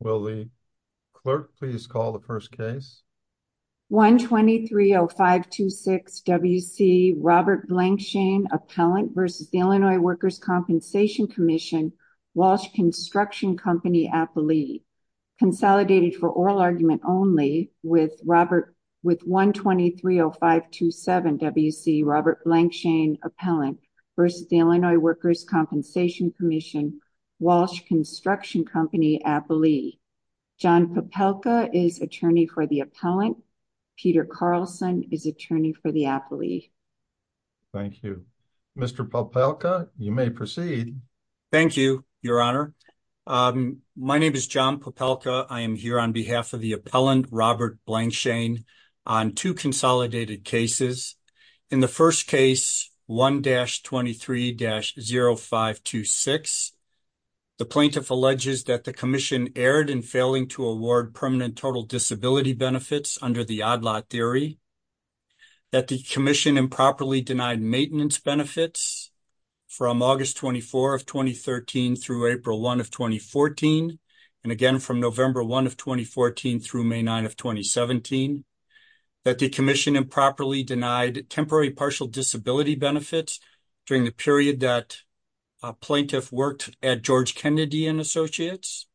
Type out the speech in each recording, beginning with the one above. Will the clerk please call the first case? 123-0526 W.C. Robert Blankshain, Appellant v. Illinois Workers' Compensation Comm'n, Walsh Construction Comp'n, Appellee. Consolidated for oral argument only with 123-0527 W.C. Robert Blankshain, Appellant v. Illinois Workers' Compensation Comm'n, Walsh Construction Comp'n, Appellee. John Popelka is Attorney for the Appellant. Peter Carlson is Attorney for the Appellee. Thank you. Mr. Popelka, you may proceed. Thank you, Your Honor. My name is John Popelka. I am here on behalf of the Appellant, Robert Blankshain, on two consolidated cases. In the first case, 1-23-0526, the Plaintiff alleges that the Commission erred in failing to award permanent total disability benefits under the Odd Lot Theory, that the Commission improperly denied maintenance benefits from August 24 of 2013 through April 1 of 2014, and again from November 1 of 2014 through May 9 of 2017, that the Commission improperly denied temporary partial disability benefits during the period that a Plaintiff worked at George Kennedy and Associates,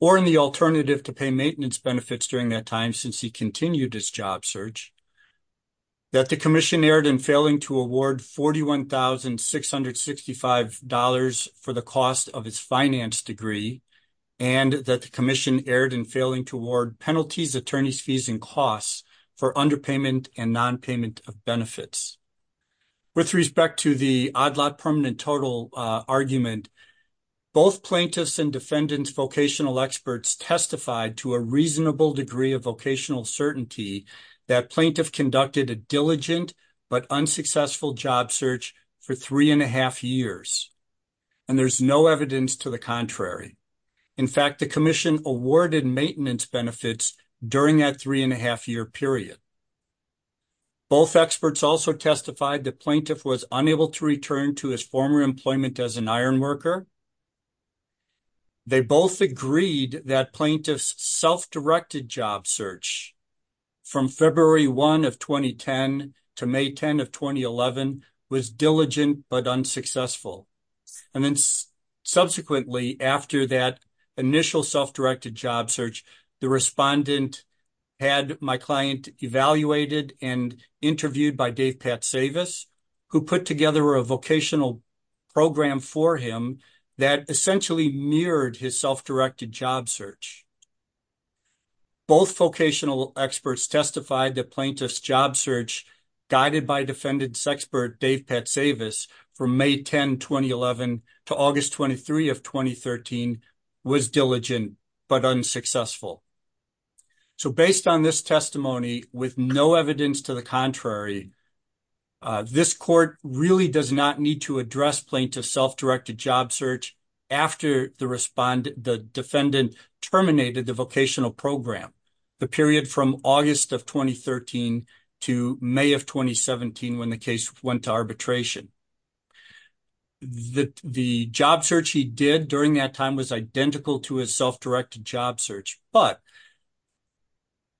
or in the alternative to pay maintenance benefits during that time since he continued his job search, that the Commission erred in failing to award $41,665 for the cost of its finance degree, and that the Commission erred in failing to award penalties, attorney's fees, and costs for underpayment and nonpayment of benefits. With respect to the Odd Lot permanent total argument, both Plaintiffs' and Defendants' vocational experts testified to a reasonable degree of vocational certainty that Plaintiff conducted a diligent but unsuccessful job search for three and a half years, and there's no evidence to the contrary. In fact, the Commission awarded maintenance benefits during that three and a half year period. Both experts also testified that Plaintiff was unable to return to his former employment as an employee, and that his self-directed job search from February 1 of 2010 to May 10 of 2011 was diligent but unsuccessful. And then subsequently, after that initial self-directed job search, the Respondent had my client evaluated and interviewed by Dave Pat Savas, who put together a vocational program for him that essentially mirrored his self-directed job search. Both vocational experts testified that Plaintiff's job search, guided by Defendants' expert Dave Pat Savas from May 10, 2011 to August 23 of 2013, was diligent but unsuccessful. So based on this need to address Plaintiff's self-directed job search after the Defendant terminated the vocational program, the period from August of 2013 to May of 2017 when the case went to arbitration, the job search he did during that time was identical to his self-directed job search, but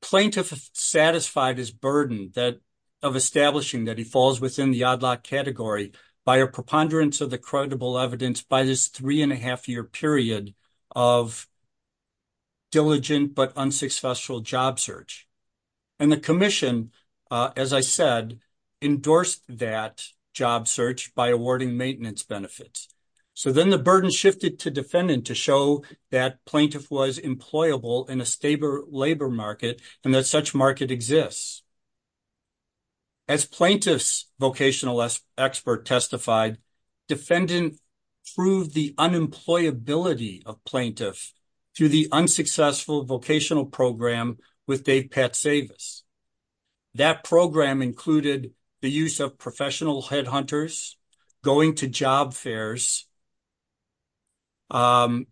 Plaintiff satisfied his burden of establishing that he falls within the odd-lot category by a preponderance of the credible evidence by this three-and-a-half-year period of diligent but unsuccessful job search. And the Commission, as I said, endorsed that job search by awarding maintenance benefits. So then the burden shifted to Defendant to show that Plaintiff was employable in a stable labor market and that such market exists. As Plaintiff's vocational expert testified, Defendant proved the unemployability of Plaintiff through the unsuccessful vocational program with Dave Pat Savas. That program included the use of professional headhunters, going to job fairs, and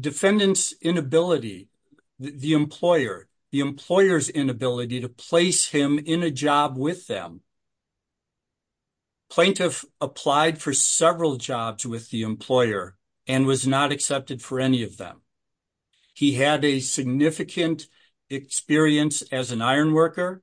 Defendant's inability, the employer, the employer's inability to place him in a job with them. Plaintiff applied for several jobs with the employer and was not accepted for any of them. He had a significant experience as an iron worker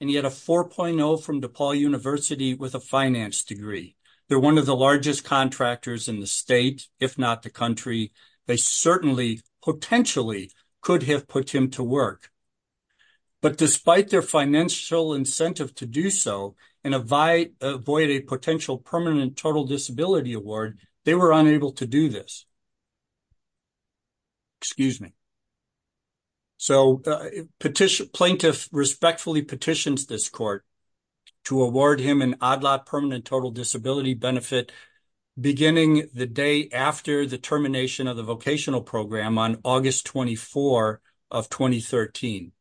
and he had a 4.0 from DePaul University with a finance degree. They're one of the largest contractors in the state, if not the country. They certainly, potentially, could have put him to work. But despite their financial incentive to do so and avoid a potential permanent total disability award, they were unable to do this. Excuse me. So Plaintiff respectfully petitions this court to award him an ODLAT permanent total disability benefit beginning the day after the termination of the vocational program on August 24 of 2013.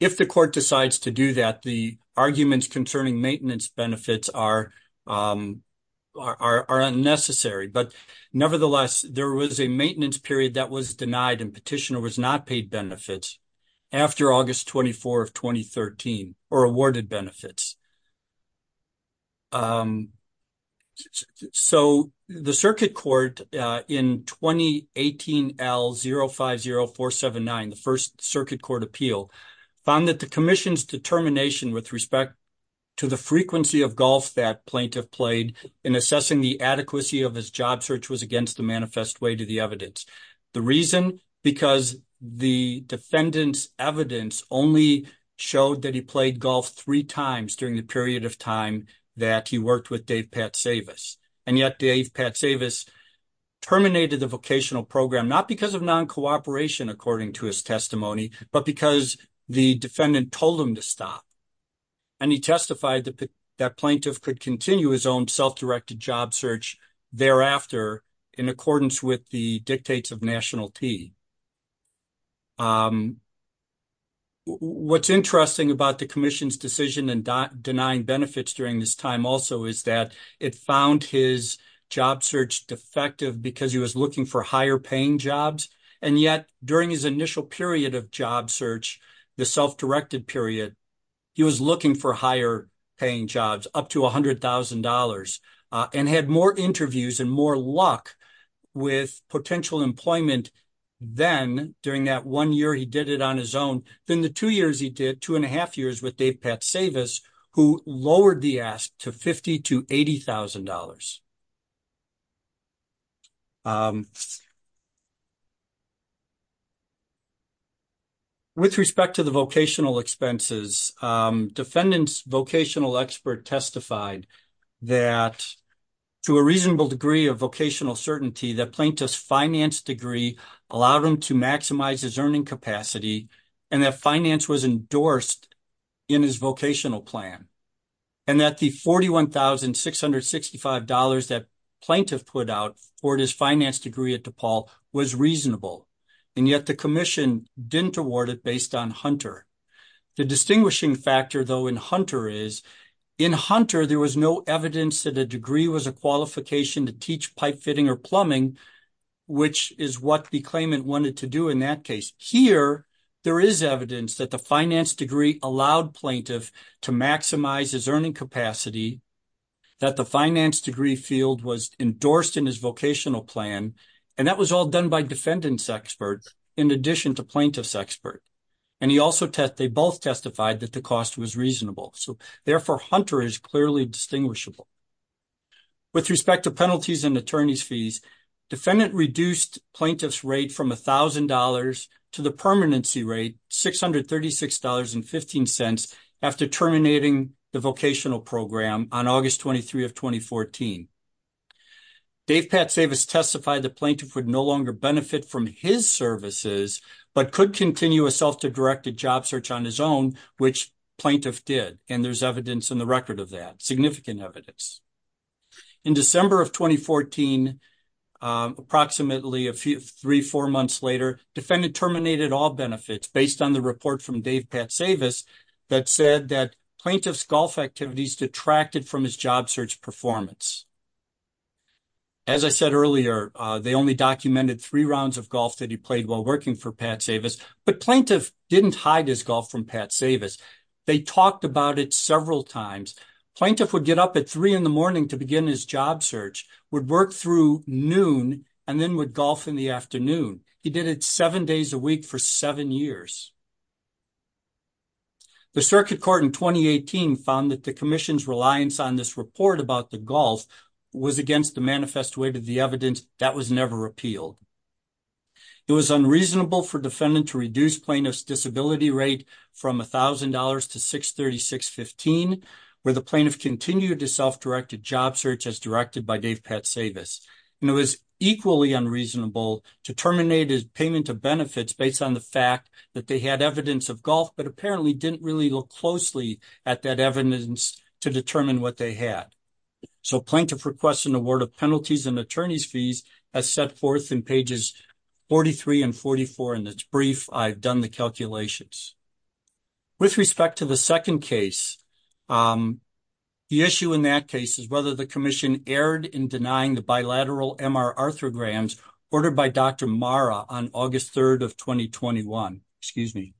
If the court decides to do that, the arguments concerning maintenance benefits are unnecessary. But nevertheless, there was a maintenance period that was denied and Petitioner was not paid benefits after August 24 of 2013, or awarded benefits. So the Circuit Court in 2018 L050479, the first Circuit Court appeal, found that the Commission's determination with respect to the frequency of golf that Plaintiff played in assessing the adequacy of his job search was against the manifest way to the evidence. The reason? Because the defendant's evidence only showed that he played golf three times during the period of time that he worked with Dave Patsavis. And yet Dave Patsavis terminated the vocational program, not because of non-cooperation, according to his testimony, but because the defendant told him to stop. And he testified that Plaintiff could continue his self-directed job search thereafter in accordance with the dictates of nationality. What's interesting about the Commission's decision and denying benefits during this time also is that it found his job search defective because he was looking for higher paying jobs. And yet, during his initial period of job search, the self-directed period, he was looking for higher paying jobs, up to $100,000, and had more interviews and more luck with potential employment then, during that one year he did it on his own, than the two years he did, two and a half years with Dave Patsavis, who lowered the ask to $50,000 to $80,000. With respect to the vocational expenses, defendant's vocational expert testified that, to a reasonable degree of vocational certainty, that Plaintiff's finance degree allowed him to maximize his earning capacity, and that finance was endorsed in his vocational plan. Plaintiff put out for his finance degree at DePaul was reasonable, and yet the Commission didn't award it based on Hunter. The distinguishing factor, though, in Hunter is, in Hunter, there was no evidence that a degree was a qualification to teach pipe fitting or plumbing, which is what the claimant wanted to do in that case. Here, there is evidence that the finance field was endorsed in his vocational plan, and that was all done by defendant's expert, in addition to Plaintiff's expert, and they both testified that the cost was reasonable. So, therefore, Hunter is clearly distinguishable. With respect to penalties and attorney's fees, defendant reduced Plaintiff's rate from $1,000 to the permanency rate, $636.15, after terminating the vocational program on August 23, 2014. Dave Patsavis testified that Plaintiff would no longer benefit from his services, but could continue a self-directed job search on his own, which Plaintiff did, and there's evidence in the record of that, significant evidence. In December of 2014, approximately three, four months later, defendant terminated all benefits based on the report from Dave Patsavis that said that Plaintiff's golf activities detracted from his job search performance. As I said earlier, they only documented three rounds of golf that he played while working for Patsavis, but Plaintiff didn't hide his golf from Patsavis. They talked about it several times. Plaintiff would get up at three in the morning to begin his job search, would work through noon, and then would golf in the afternoon. He did it seven days a week for seven years. The Circuit Court in 2018 found that the Commission's reliance on this report about the golf was against the manifest way to the evidence that was never repealed. It was unreasonable for defendant to reduce Plaintiff's disability rate from $1,000 to $636.15, where the Plaintiff continued his self-directed job search as directed by Dave Patsavis. It was equally unreasonable to terminate his payment of benefits based on the fact that they had evidence of golf, but apparently didn't really look closely at that evidence to determine what they had. So Plaintiff requests an award of penalties and attorney's fees as set forth in pages 43 and 44 and it's brief. I've done the calculations. With respect to the second case, the issue in that case is whether the Commission erred in denying the bilateral MR arthrograms ordered by Dr. Marra on August 3rd of 2021. Excuse me.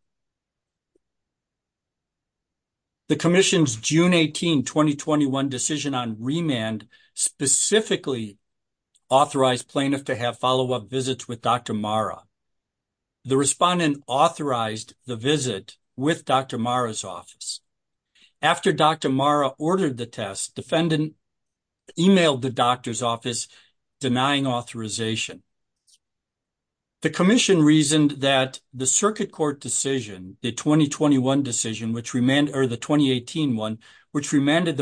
The Commission's June 18, 2021 decision on remand specifically authorized Plaintiff to have follow-up visits with Dr. Marra. The respondent authorized the visit with Dr. Marra's office. After Dr. Marra ordered the test, defendant emailed the doctor's office denying authorization. The Commission reasoned that the Circuit Court decision, the 2021 decision, which remanded, or the 2018 one, which remanded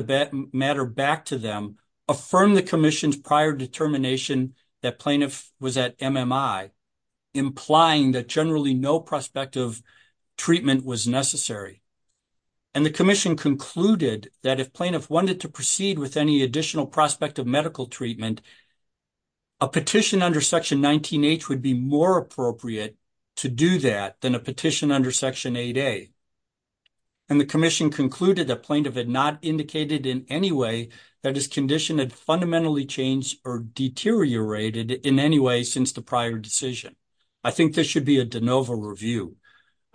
matter back to them, affirmed the Commission's prior determination that Plaintiff was at MMI, implying that generally no prospective treatment was necessary. And the Commission concluded that if Plaintiff wanted to proceed with any additional prospective medical treatment, a petition under Section 19H would be more appropriate to do that than a petition under Section 8A. And the Commission concluded that Plaintiff had not indicated in any way that his condition had fundamentally changed or deteriorated in any way since the prior decision. I think this should be a de novo review.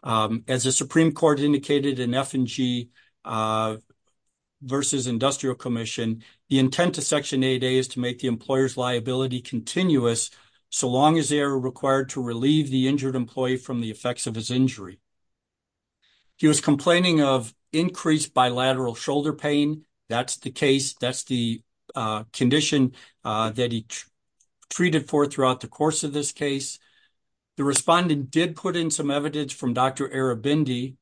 As the Supreme Court indicated in F&G v. Industrial Commission, the intent of Section 8A is to make the employer's liability continuous so long as they are required to relieve the injured employee from the effects of his injury. He was complaining of increased bilateral shoulder pain. That's the case. That's the condition that he treated for throughout the course of this case. The respondent did put in some evidence from Dr. Arabindi.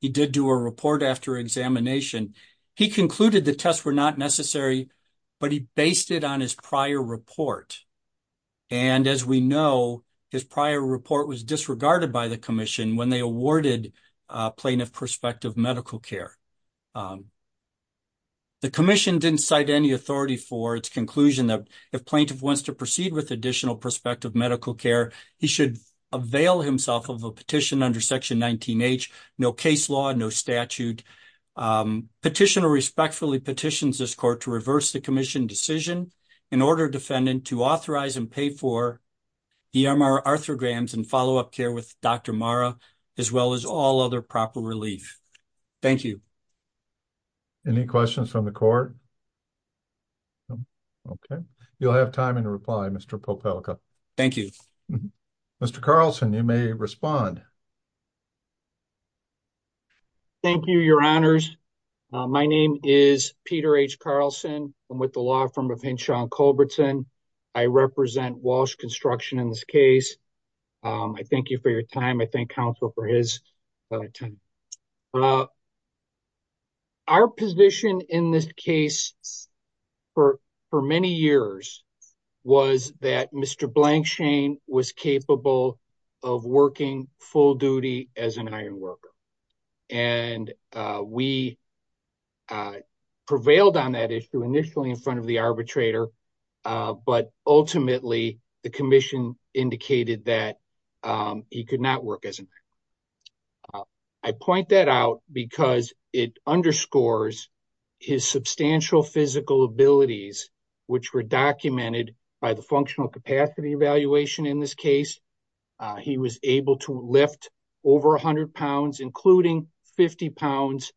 He did do a report after examination. He concluded the tests were not necessary, but he based it on his prior report. And as we know, his prior report was disregarded by the Commission when they awarded Plaintiff prospective medical care. The Commission didn't cite any authority for its conclusion that if Plaintiff wants to proceed with additional prospective medical care, he should avail himself of a petition under Section 19H, no case law, no statute. Petitioner respectfully petitions this Court to reverse the Commission decision and order defendant to authorize and pay for EMR arthrograms and follow-up care with Dr. Marra, as well as all other proper relief. Thank you. Any questions from the Court? Okay. You'll have time in reply, Mr. Popelka. Thank you. Mr. Carlson, you may respond. Thank you, Your Honors. My name is Peter H. Carlson. I'm with the law firm of Henshaw and Culbertson. I represent Walsh Construction in this case. I thank you for your time. I thank counsel for his time. Our position in this case for many years was that Mr. Blankshain was capable of working full duty as an ironworker. We prevailed on that issue initially in front of the arbitrator, but ultimately, the Commission indicated that he could not work as an ironworker. I point that out because it underscores his substantial physical abilities, which were he was able to lift over 100 pounds, including 50 pounds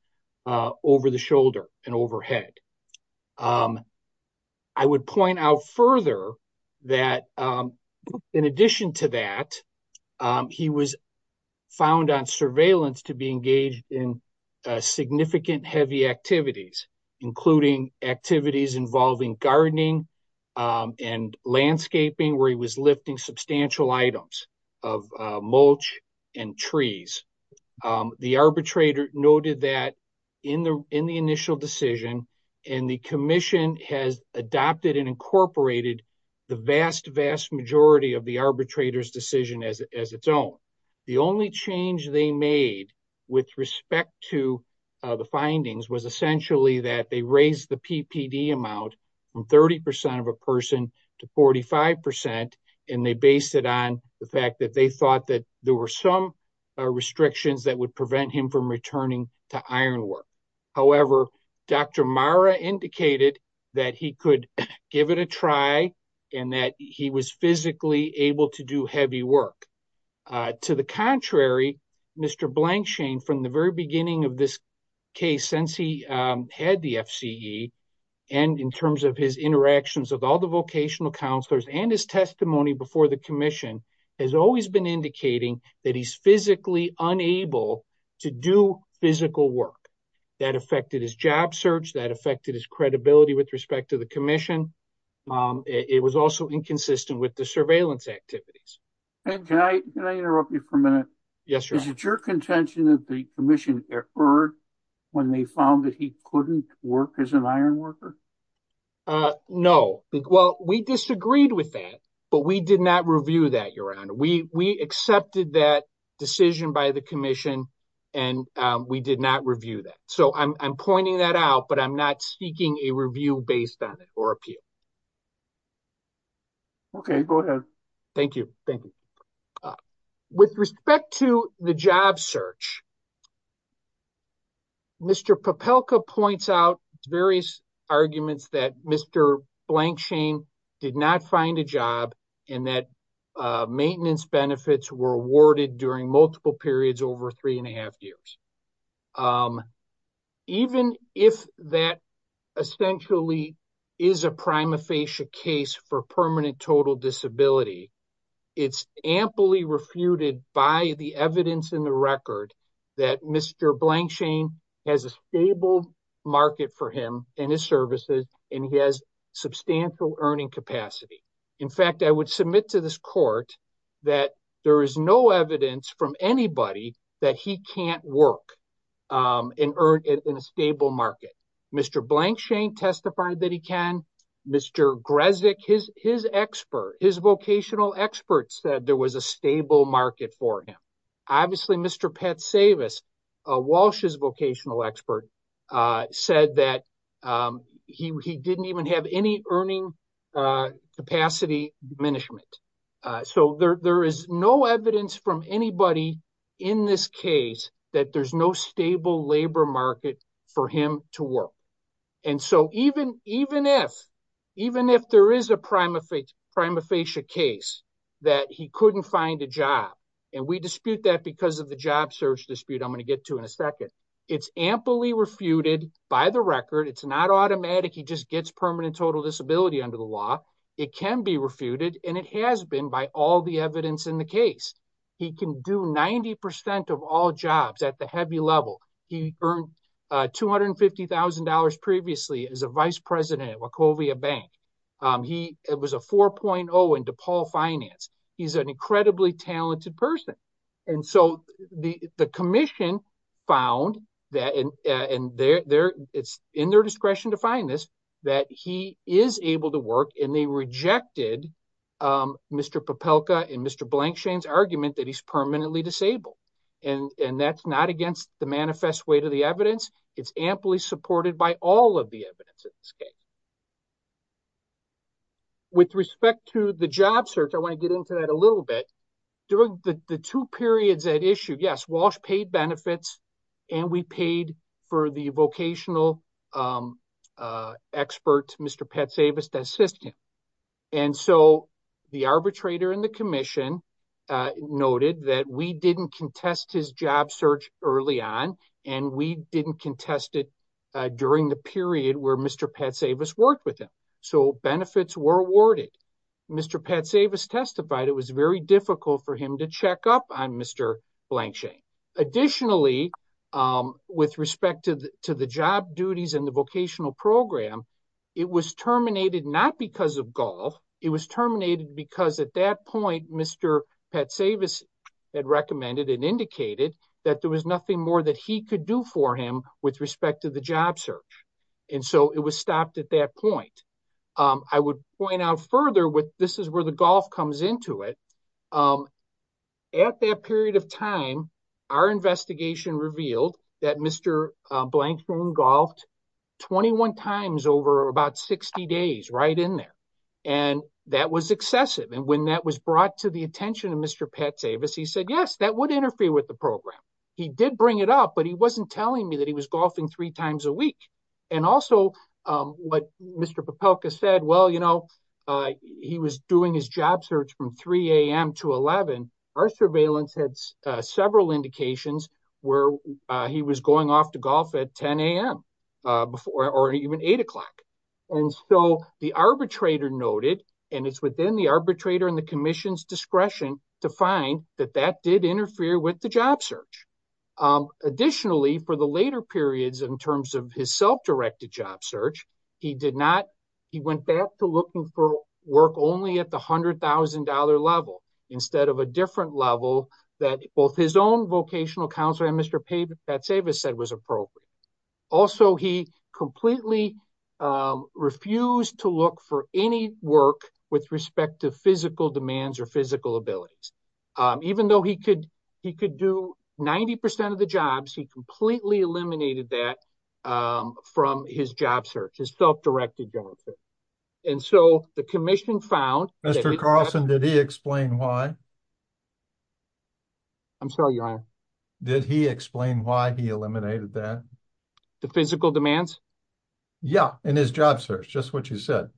over the shoulder and overhead. I would point out further that in addition to that, he was found on surveillance to be engaged in significant heavy activities, including activities involving gardening and landscaping where he was lifting substantial items of mulch and trees. The arbitrator noted that in the initial decision and the Commission has adopted and incorporated the vast majority of the arbitrator's decision as its own. The only change they made with respect to the findings was essentially that they raised the PPD amount from 30% of a person to 45% and they based it on the fact that they thought there were some restrictions that would prevent him from returning to ironwork. However, Dr. Marra indicated that he could give it a try and that he was physically able to do heavy work. To the contrary, Mr. Blankshain, from the very beginning of this case, since he had the FCE and in terms of his interactions with all the vocational counselors and his testimony before the Commission, has always been indicating that he's physically unable to do physical work. That affected his job search, that affected his credibility with respect to the Commission. It was also inconsistent with the surveillance activities. And can I interrupt you for a minute? Yes, sure. Is it your contention that the Commission heard when they found that he couldn't work as an ironworker? No. Well, we disagreed with that, but we did not review that, Your Honor. We accepted that decision by the Commission and we did not review that. So I'm pointing that out, but I'm not seeking a review based on it or appeal. Okay, go ahead. Thank you, thank you. With respect to the job search, Mr. Popelka points out various arguments that Mr. Blankshain did not find a job and that maintenance benefits were awarded during multiple periods over three and a half years. Even if that essentially is a prima facie case for permanent total disability, it's amply refuted by the evidence in the record that Mr. Blankshain has a stable market for him and his services and he has substantial earning capacity. In fact, I would submit to this court that there is no evidence from anybody that he can't work and earn in a stable market. Mr. Blankshain testified that he can. Mr. Grezek, his vocational expert, said there was a stable market for him. Obviously, Mr. Patsavis, Walsh's vocational expert, said that he didn't even have any earning capacity diminishment. There is no evidence from anybody in this case that there's no stable labor market for him to work. Even if there is a prima facie case that he couldn't find a job, and we dispute that because of the job search dispute I'm going to get to in a second, it's amply refuted by the record. It's not automatic. He just gets permanent total disability under the law. It can be refuted and it has been by all the evidence in the case. He can do 90% of all jobs at the heavy level. He earned $250,000 previously as a vice president at Wachovia Bank. He was a 4.0 in DePaul Finance. He's an incredibly talented person. And so the commission found that, and it's in their discretion to find this, that he is able to work and they rejected Mr. Popelka and Mr. Blankshain's argument that he's permanently disabled. And that's not against the manifest weight of the evidence. It's amply supported by all of the evidence in this case. With respect to the job search, I want to get into that a issue. Yes, Walsh paid benefits and we paid for the vocational expert, Mr. Patsavis to assist him. And so the arbitrator in the commission noted that we didn't contest his job search early on, and we didn't contest it during the period where Mr. Patsavis worked with him. So benefits were Mr. Blankshain. Additionally, with respect to the job duties and the vocational program, it was terminated not because of golf. It was terminated because at that point, Mr. Patsavis had recommended and indicated that there was nothing more that he could do for him with respect to the job search. And so it was stopped at that point. I would point out further this is where the golf comes into it. At that period of time, our investigation revealed that Mr. Blankshain golfed 21 times over about 60 days right in there. And that was excessive. And when that was brought to the attention of Mr. Patsavis, he said, yes, that would interfere with the program. He did bring it up, but he wasn't telling me that he was golfing three times a week. And also what Mr. Popelka said, well, you know, he was doing his job search from 3 a.m. to 11. Our surveillance had several indications where he was going off to golf at 10 a.m. or even eight o'clock. And so the arbitrator noted, and it's within the arbitrator and the commission's discretion to find that that did interfere with the job search. Additionally, for the later periods in terms of his self-directed job search, he did not, he went back to looking for work only at the $100,000 level instead of a different level that both his own vocational counselor and Mr. Patsavis said was appropriate. Also, he completely refused to look for any work with respect to physical demands or physical abilities. Even though he could do 90% of the jobs, he completely eliminated that from his job search, his self-directed job search. And so the commission found- Mr. Carlson, did he explain why? I'm sorry, your honor. Did he explain why he eliminated that? The physical demands? Yeah, in his job search, just what you said.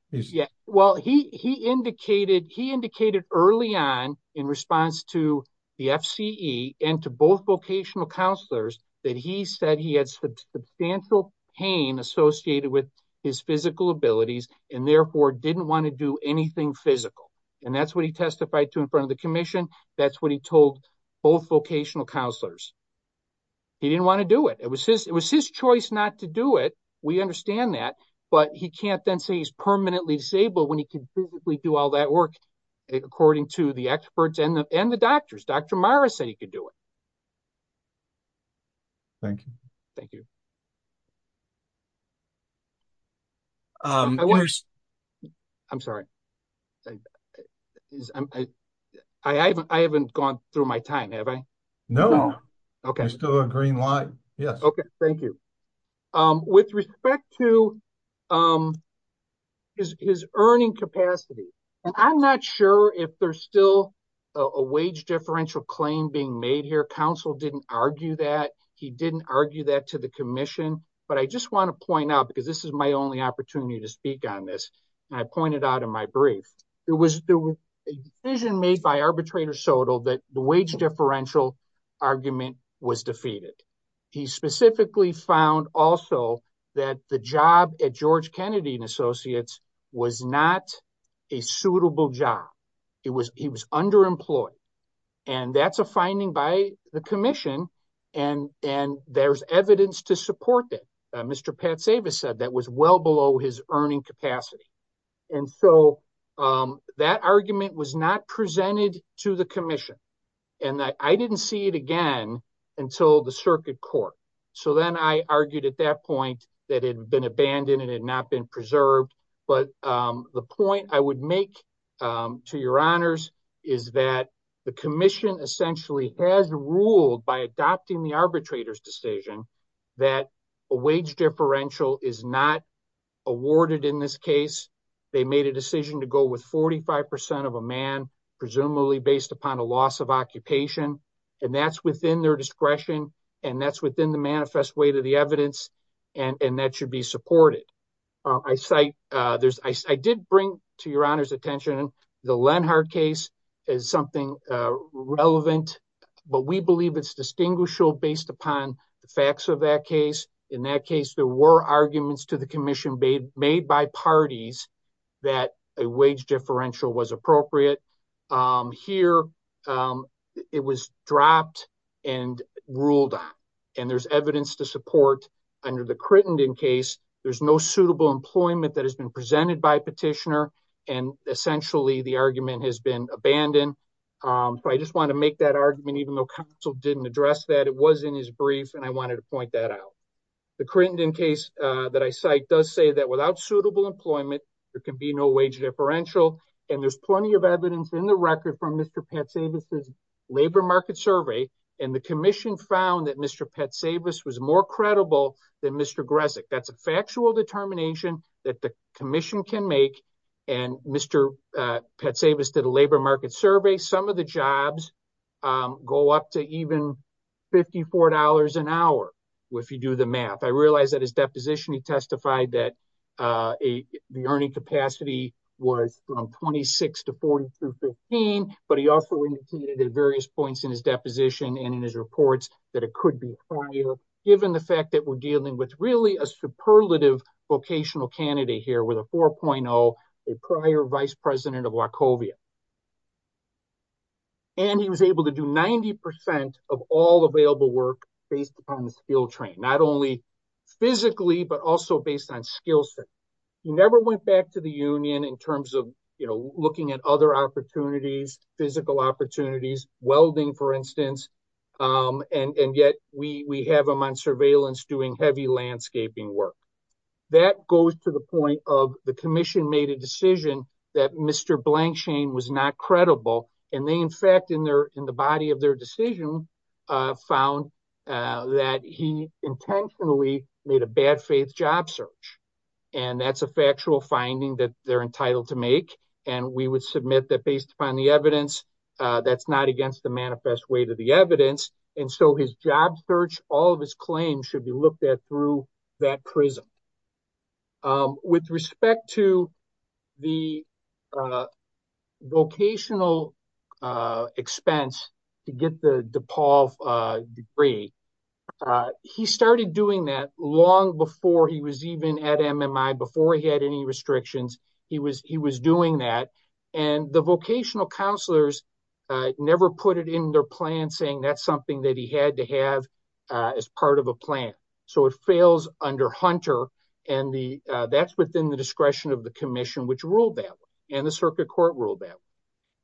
Well, he indicated early on in response to the FCE and to both vocational counselors that he said he had substantial pain associated with his physical abilities and therefore didn't want to do anything physical. And that's what he testified to in front of the commission. That's what he told both vocational counselors. He didn't want to do it. It was his choice not to do it. We understand that, but he can't then say he's permanently disabled when he can physically do all that work according to the experts and the doctors. Dr. Mara said he could do it. Thank you. Thank you. I'm sorry. I haven't gone through my time, have I? No. You're still on green light. Okay, thank you. With respect to his earning capacity, and I'm not sure if there's still a wage differential claim being made here. Counsel didn't argue that. He didn't argue that to the commission. But I just want to point out, because this is my only opportunity to speak on this, and I pointed out in my brief, there was a decision made by arbitrator Soto that the specifically found also that the job at George Kennedy and Associates was not a suitable job. He was underemployed. And that's a finding by the commission. And there's evidence to support that. Mr. Pat Savas said that was well below his earning capacity. And so that argument was not presented to the commission. And I didn't see it again, until the circuit court. So then I argued at that point, that had been abandoned and had not been preserved. But the point I would make, to your honors, is that the commission essentially has ruled by adopting the arbitrator's decision, that a wage differential is not awarded in this case, they made a decision to go with 45% of a based upon a loss of occupation. And that's within their discretion. And that's within the manifest way to the evidence. And that should be supported. I cite, there's I did bring to your honors attention, the Lenhart case is something relevant. But we believe it's distinguishable based upon the facts of that case. In that case, there were arguments to the commission made by parties, that a wage differential was appropriate. Here, it was dropped and ruled on. And there's evidence to support under the Crittenden case, there's no suitable employment that has been presented by petitioner. And essentially, the argument has been abandoned. But I just want to make that argument, even though counsel didn't address that it was in his brief, and I wanted to point that out. The Crittenden case that I cite does say that without suitable employment, there can be no wage differential. And there's plenty of evidence in the record from Mr. Patsavis' labor market survey. And the commission found that Mr. Patsavis was more credible than Mr. Grezik. That's a factual determination that the commission can make. And Mr. Patsavis did a labor market survey, some of the jobs go up to even $54 an hour. If you do the math, I realized that his deposition, he testified that the earning capacity was from 26 to 42 15. But he also indicated at various points in his deposition and in his reports, that it could be higher, given the fact that we're dealing with really a superlative vocational candidate here with a 4.0, a prior vice president of Wachovia. And he was able to do 90% of all available work based upon the skill train, not only physically, but also based on skillset. He never went back to the union in terms of, you know, looking at other opportunities, physical opportunities, welding, for instance. And yet we have them on surveillance doing heavy landscaping work. That goes to the point of the commission made a decision that Mr. Blanchine was not credible. And they, in fact, in their, in the body of their decision, found that he intentionally made a bad faith job search. And that's a factual finding that they're entitled to make. And we would submit that based upon the evidence, that's not against the manifest way to the commission. With respect to the vocational expense to get the DePaul degree, he started doing that long before he was even at MMI, before he had any restrictions, he was doing that. And the vocational counselors never put it in their plan saying that's he had to have as part of a plan. So it fails under Hunter. And that's within the discretion of the commission, which ruled that and the circuit court ruled that.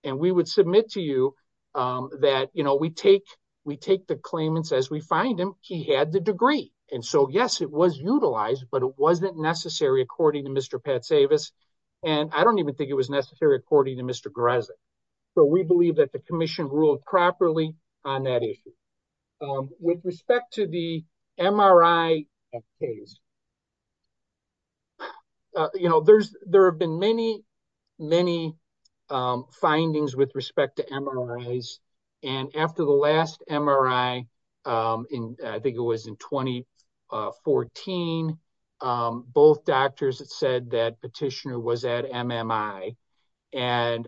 And we would submit to you that, you know, we take the claimants as we find him, he had the degree. And so yes, it was utilized, but it wasn't necessary according to Mr. Pat Savas. And I don't even think it was according to Mr. Grezik. So we believe that the commission ruled properly on that issue. With respect to the MRI case, you know, there's, there have been many, many findings with respect to MRIs. And after the last MRI in, I think it was in 2014, both doctors had said that petitioner was at MMI. And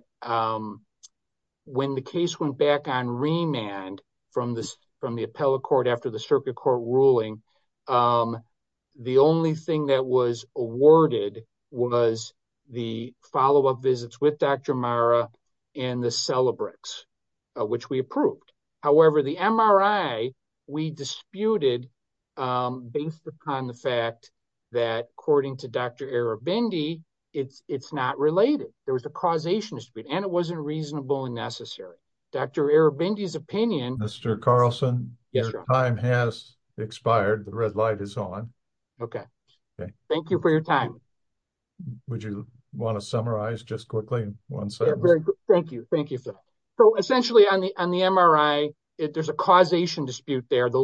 when the case went back on remand from this, from the appellate court, after the circuit court ruling, the only thing that was awarded was the follow up visits with Dr. Mara and the Celebrex, which we approved. However, the MRI, we disputed based upon the fact that according to Dr. Arabendi, it's, it's not related. There was a causation dispute and it wasn't reasonable and necessary. Dr. Arabendi's opinion, Mr. Carlson, your time has expired. The red light is on. Okay. Thank you for your time. Would you want to summarize just quickly? Thank you. Thank you. So essentially on the, on the MRI, there's a causation dispute there. The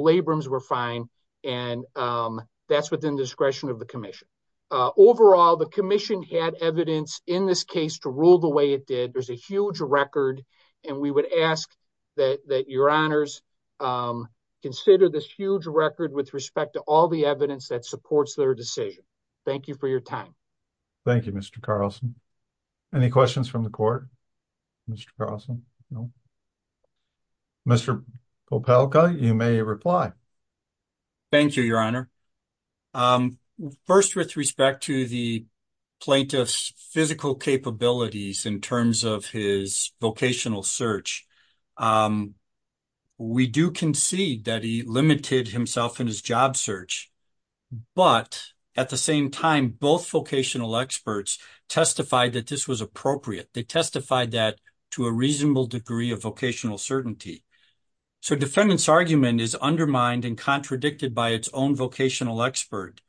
discretion of the commission. Overall, the commission had evidence in this case to rule the way it did. There's a huge record. And we would ask that, that your honors consider this huge record with respect to all the evidence that supports their decision. Thank you for your time. Thank you, Mr. Carlson. Any questions from the court? Mr. Carlson? No. Mr. Popelka, you may reply. Thank you, your honor. First, with respect to the plaintiff's physical capabilities in terms of his vocational search, we do concede that he limited himself in his job search, but at the same time, both vocational experts testified that this was appropriate. They testified that to a reasonable degree of vocational certainty. So defendant's argument is undermined and contradicted by its own vocational expert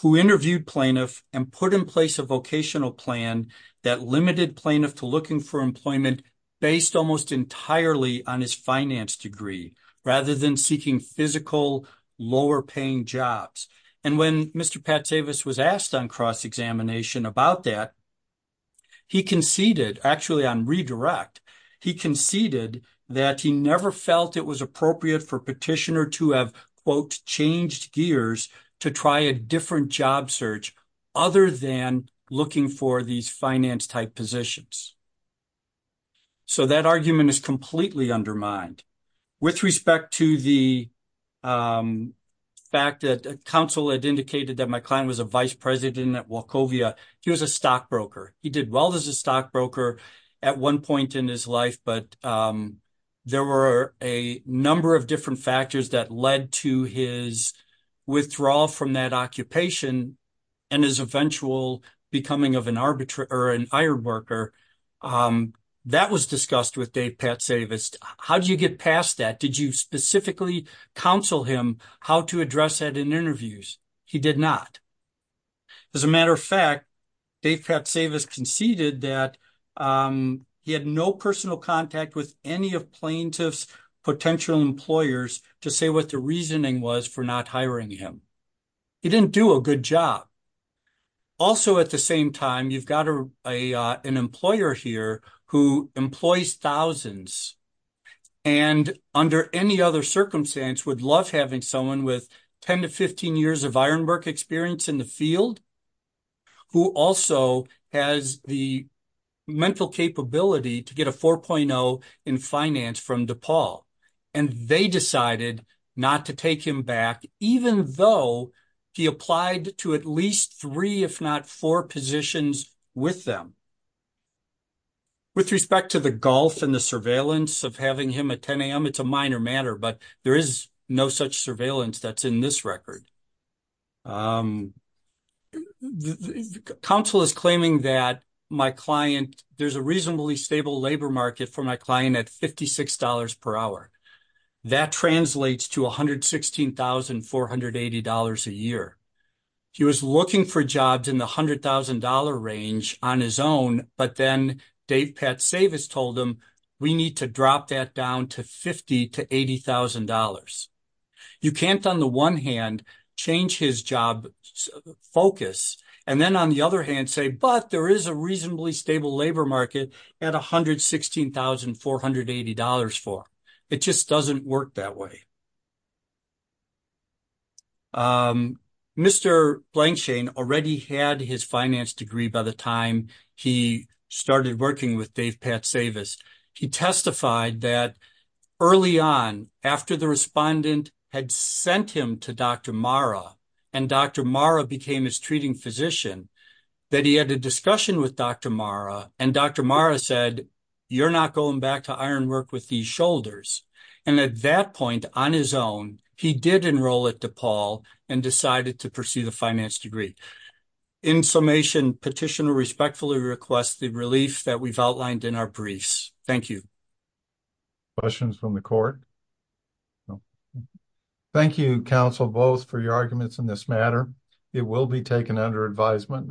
who interviewed plaintiff and put in place a vocational plan that limited plaintiff to looking for employment based almost entirely on his finance degree, rather than seeking physical lower paying jobs. And when Mr. Patsavis was asked on cross-examination about that, he conceded, actually on redirect, he conceded that he never felt it was appropriate for petitioner to have, quote, changed gears to try a different job search other than looking for these finance type positions. So that argument is completely undermined. With respect to the fact that counsel had indicated that my client was a vice president at Wachovia, he was a stockbroker. He did well as a stockbroker at one point in his life, but there were a number of different factors that led to his withdrawal from that occupation and his eventual becoming of an arbiter or an iron worker. That was discussed with Dave Patsavis. How did you get past that? Did you specifically counsel him how to address that in interviews? He did not. As a matter of fact, Dave Patsavis conceded that he had no personal contact with any of plaintiff's potential employers to say what the reasoning was for not hiring him. He didn't do a good job. Also at the same time, you've got an employer here who employs thousands and under any other circumstance would love having someone with 10 to 15 years of iron work experience in the field who also has the mental capability to get a 4.0 in finance from DePaul. And they decided not to take him back, even though he applied to at least three, if not four positions with them. With respect to the gulf and the surveillance of having him at 10 AM, it's a minor matter, but there is no such surveillance that's in this record. Counsel is claiming that there's a reasonably stable labor market for my client at $56 per hour. That translates to $116,480 a year. He was looking for jobs in the $100,000 range on his own, but then Dave Patsavis told him, we need to drop that down to 50 to $80,000. You can't on the one hand, change his job focus. And then on the other hand say, but there is a reasonably stable labor at $116,480 for him. It just doesn't work that way. Mr. Blankshain already had his finance degree by the time he started working with Dave Patsavis. He testified that early on after the respondent had sent him to Dr. Mara and Dr. Mara became his advisor. Dr. Mara said, you're not going back to iron work with these shoulders. And at that point on his own, he did enroll at DePaul and decided to pursue the finance degree. In summation, petitioner respectfully requests the relief that we've outlined in our briefs. Thank you. Questions from the court. Thank you, counsel, both for your arguments in this matter. It will be taken under advisement.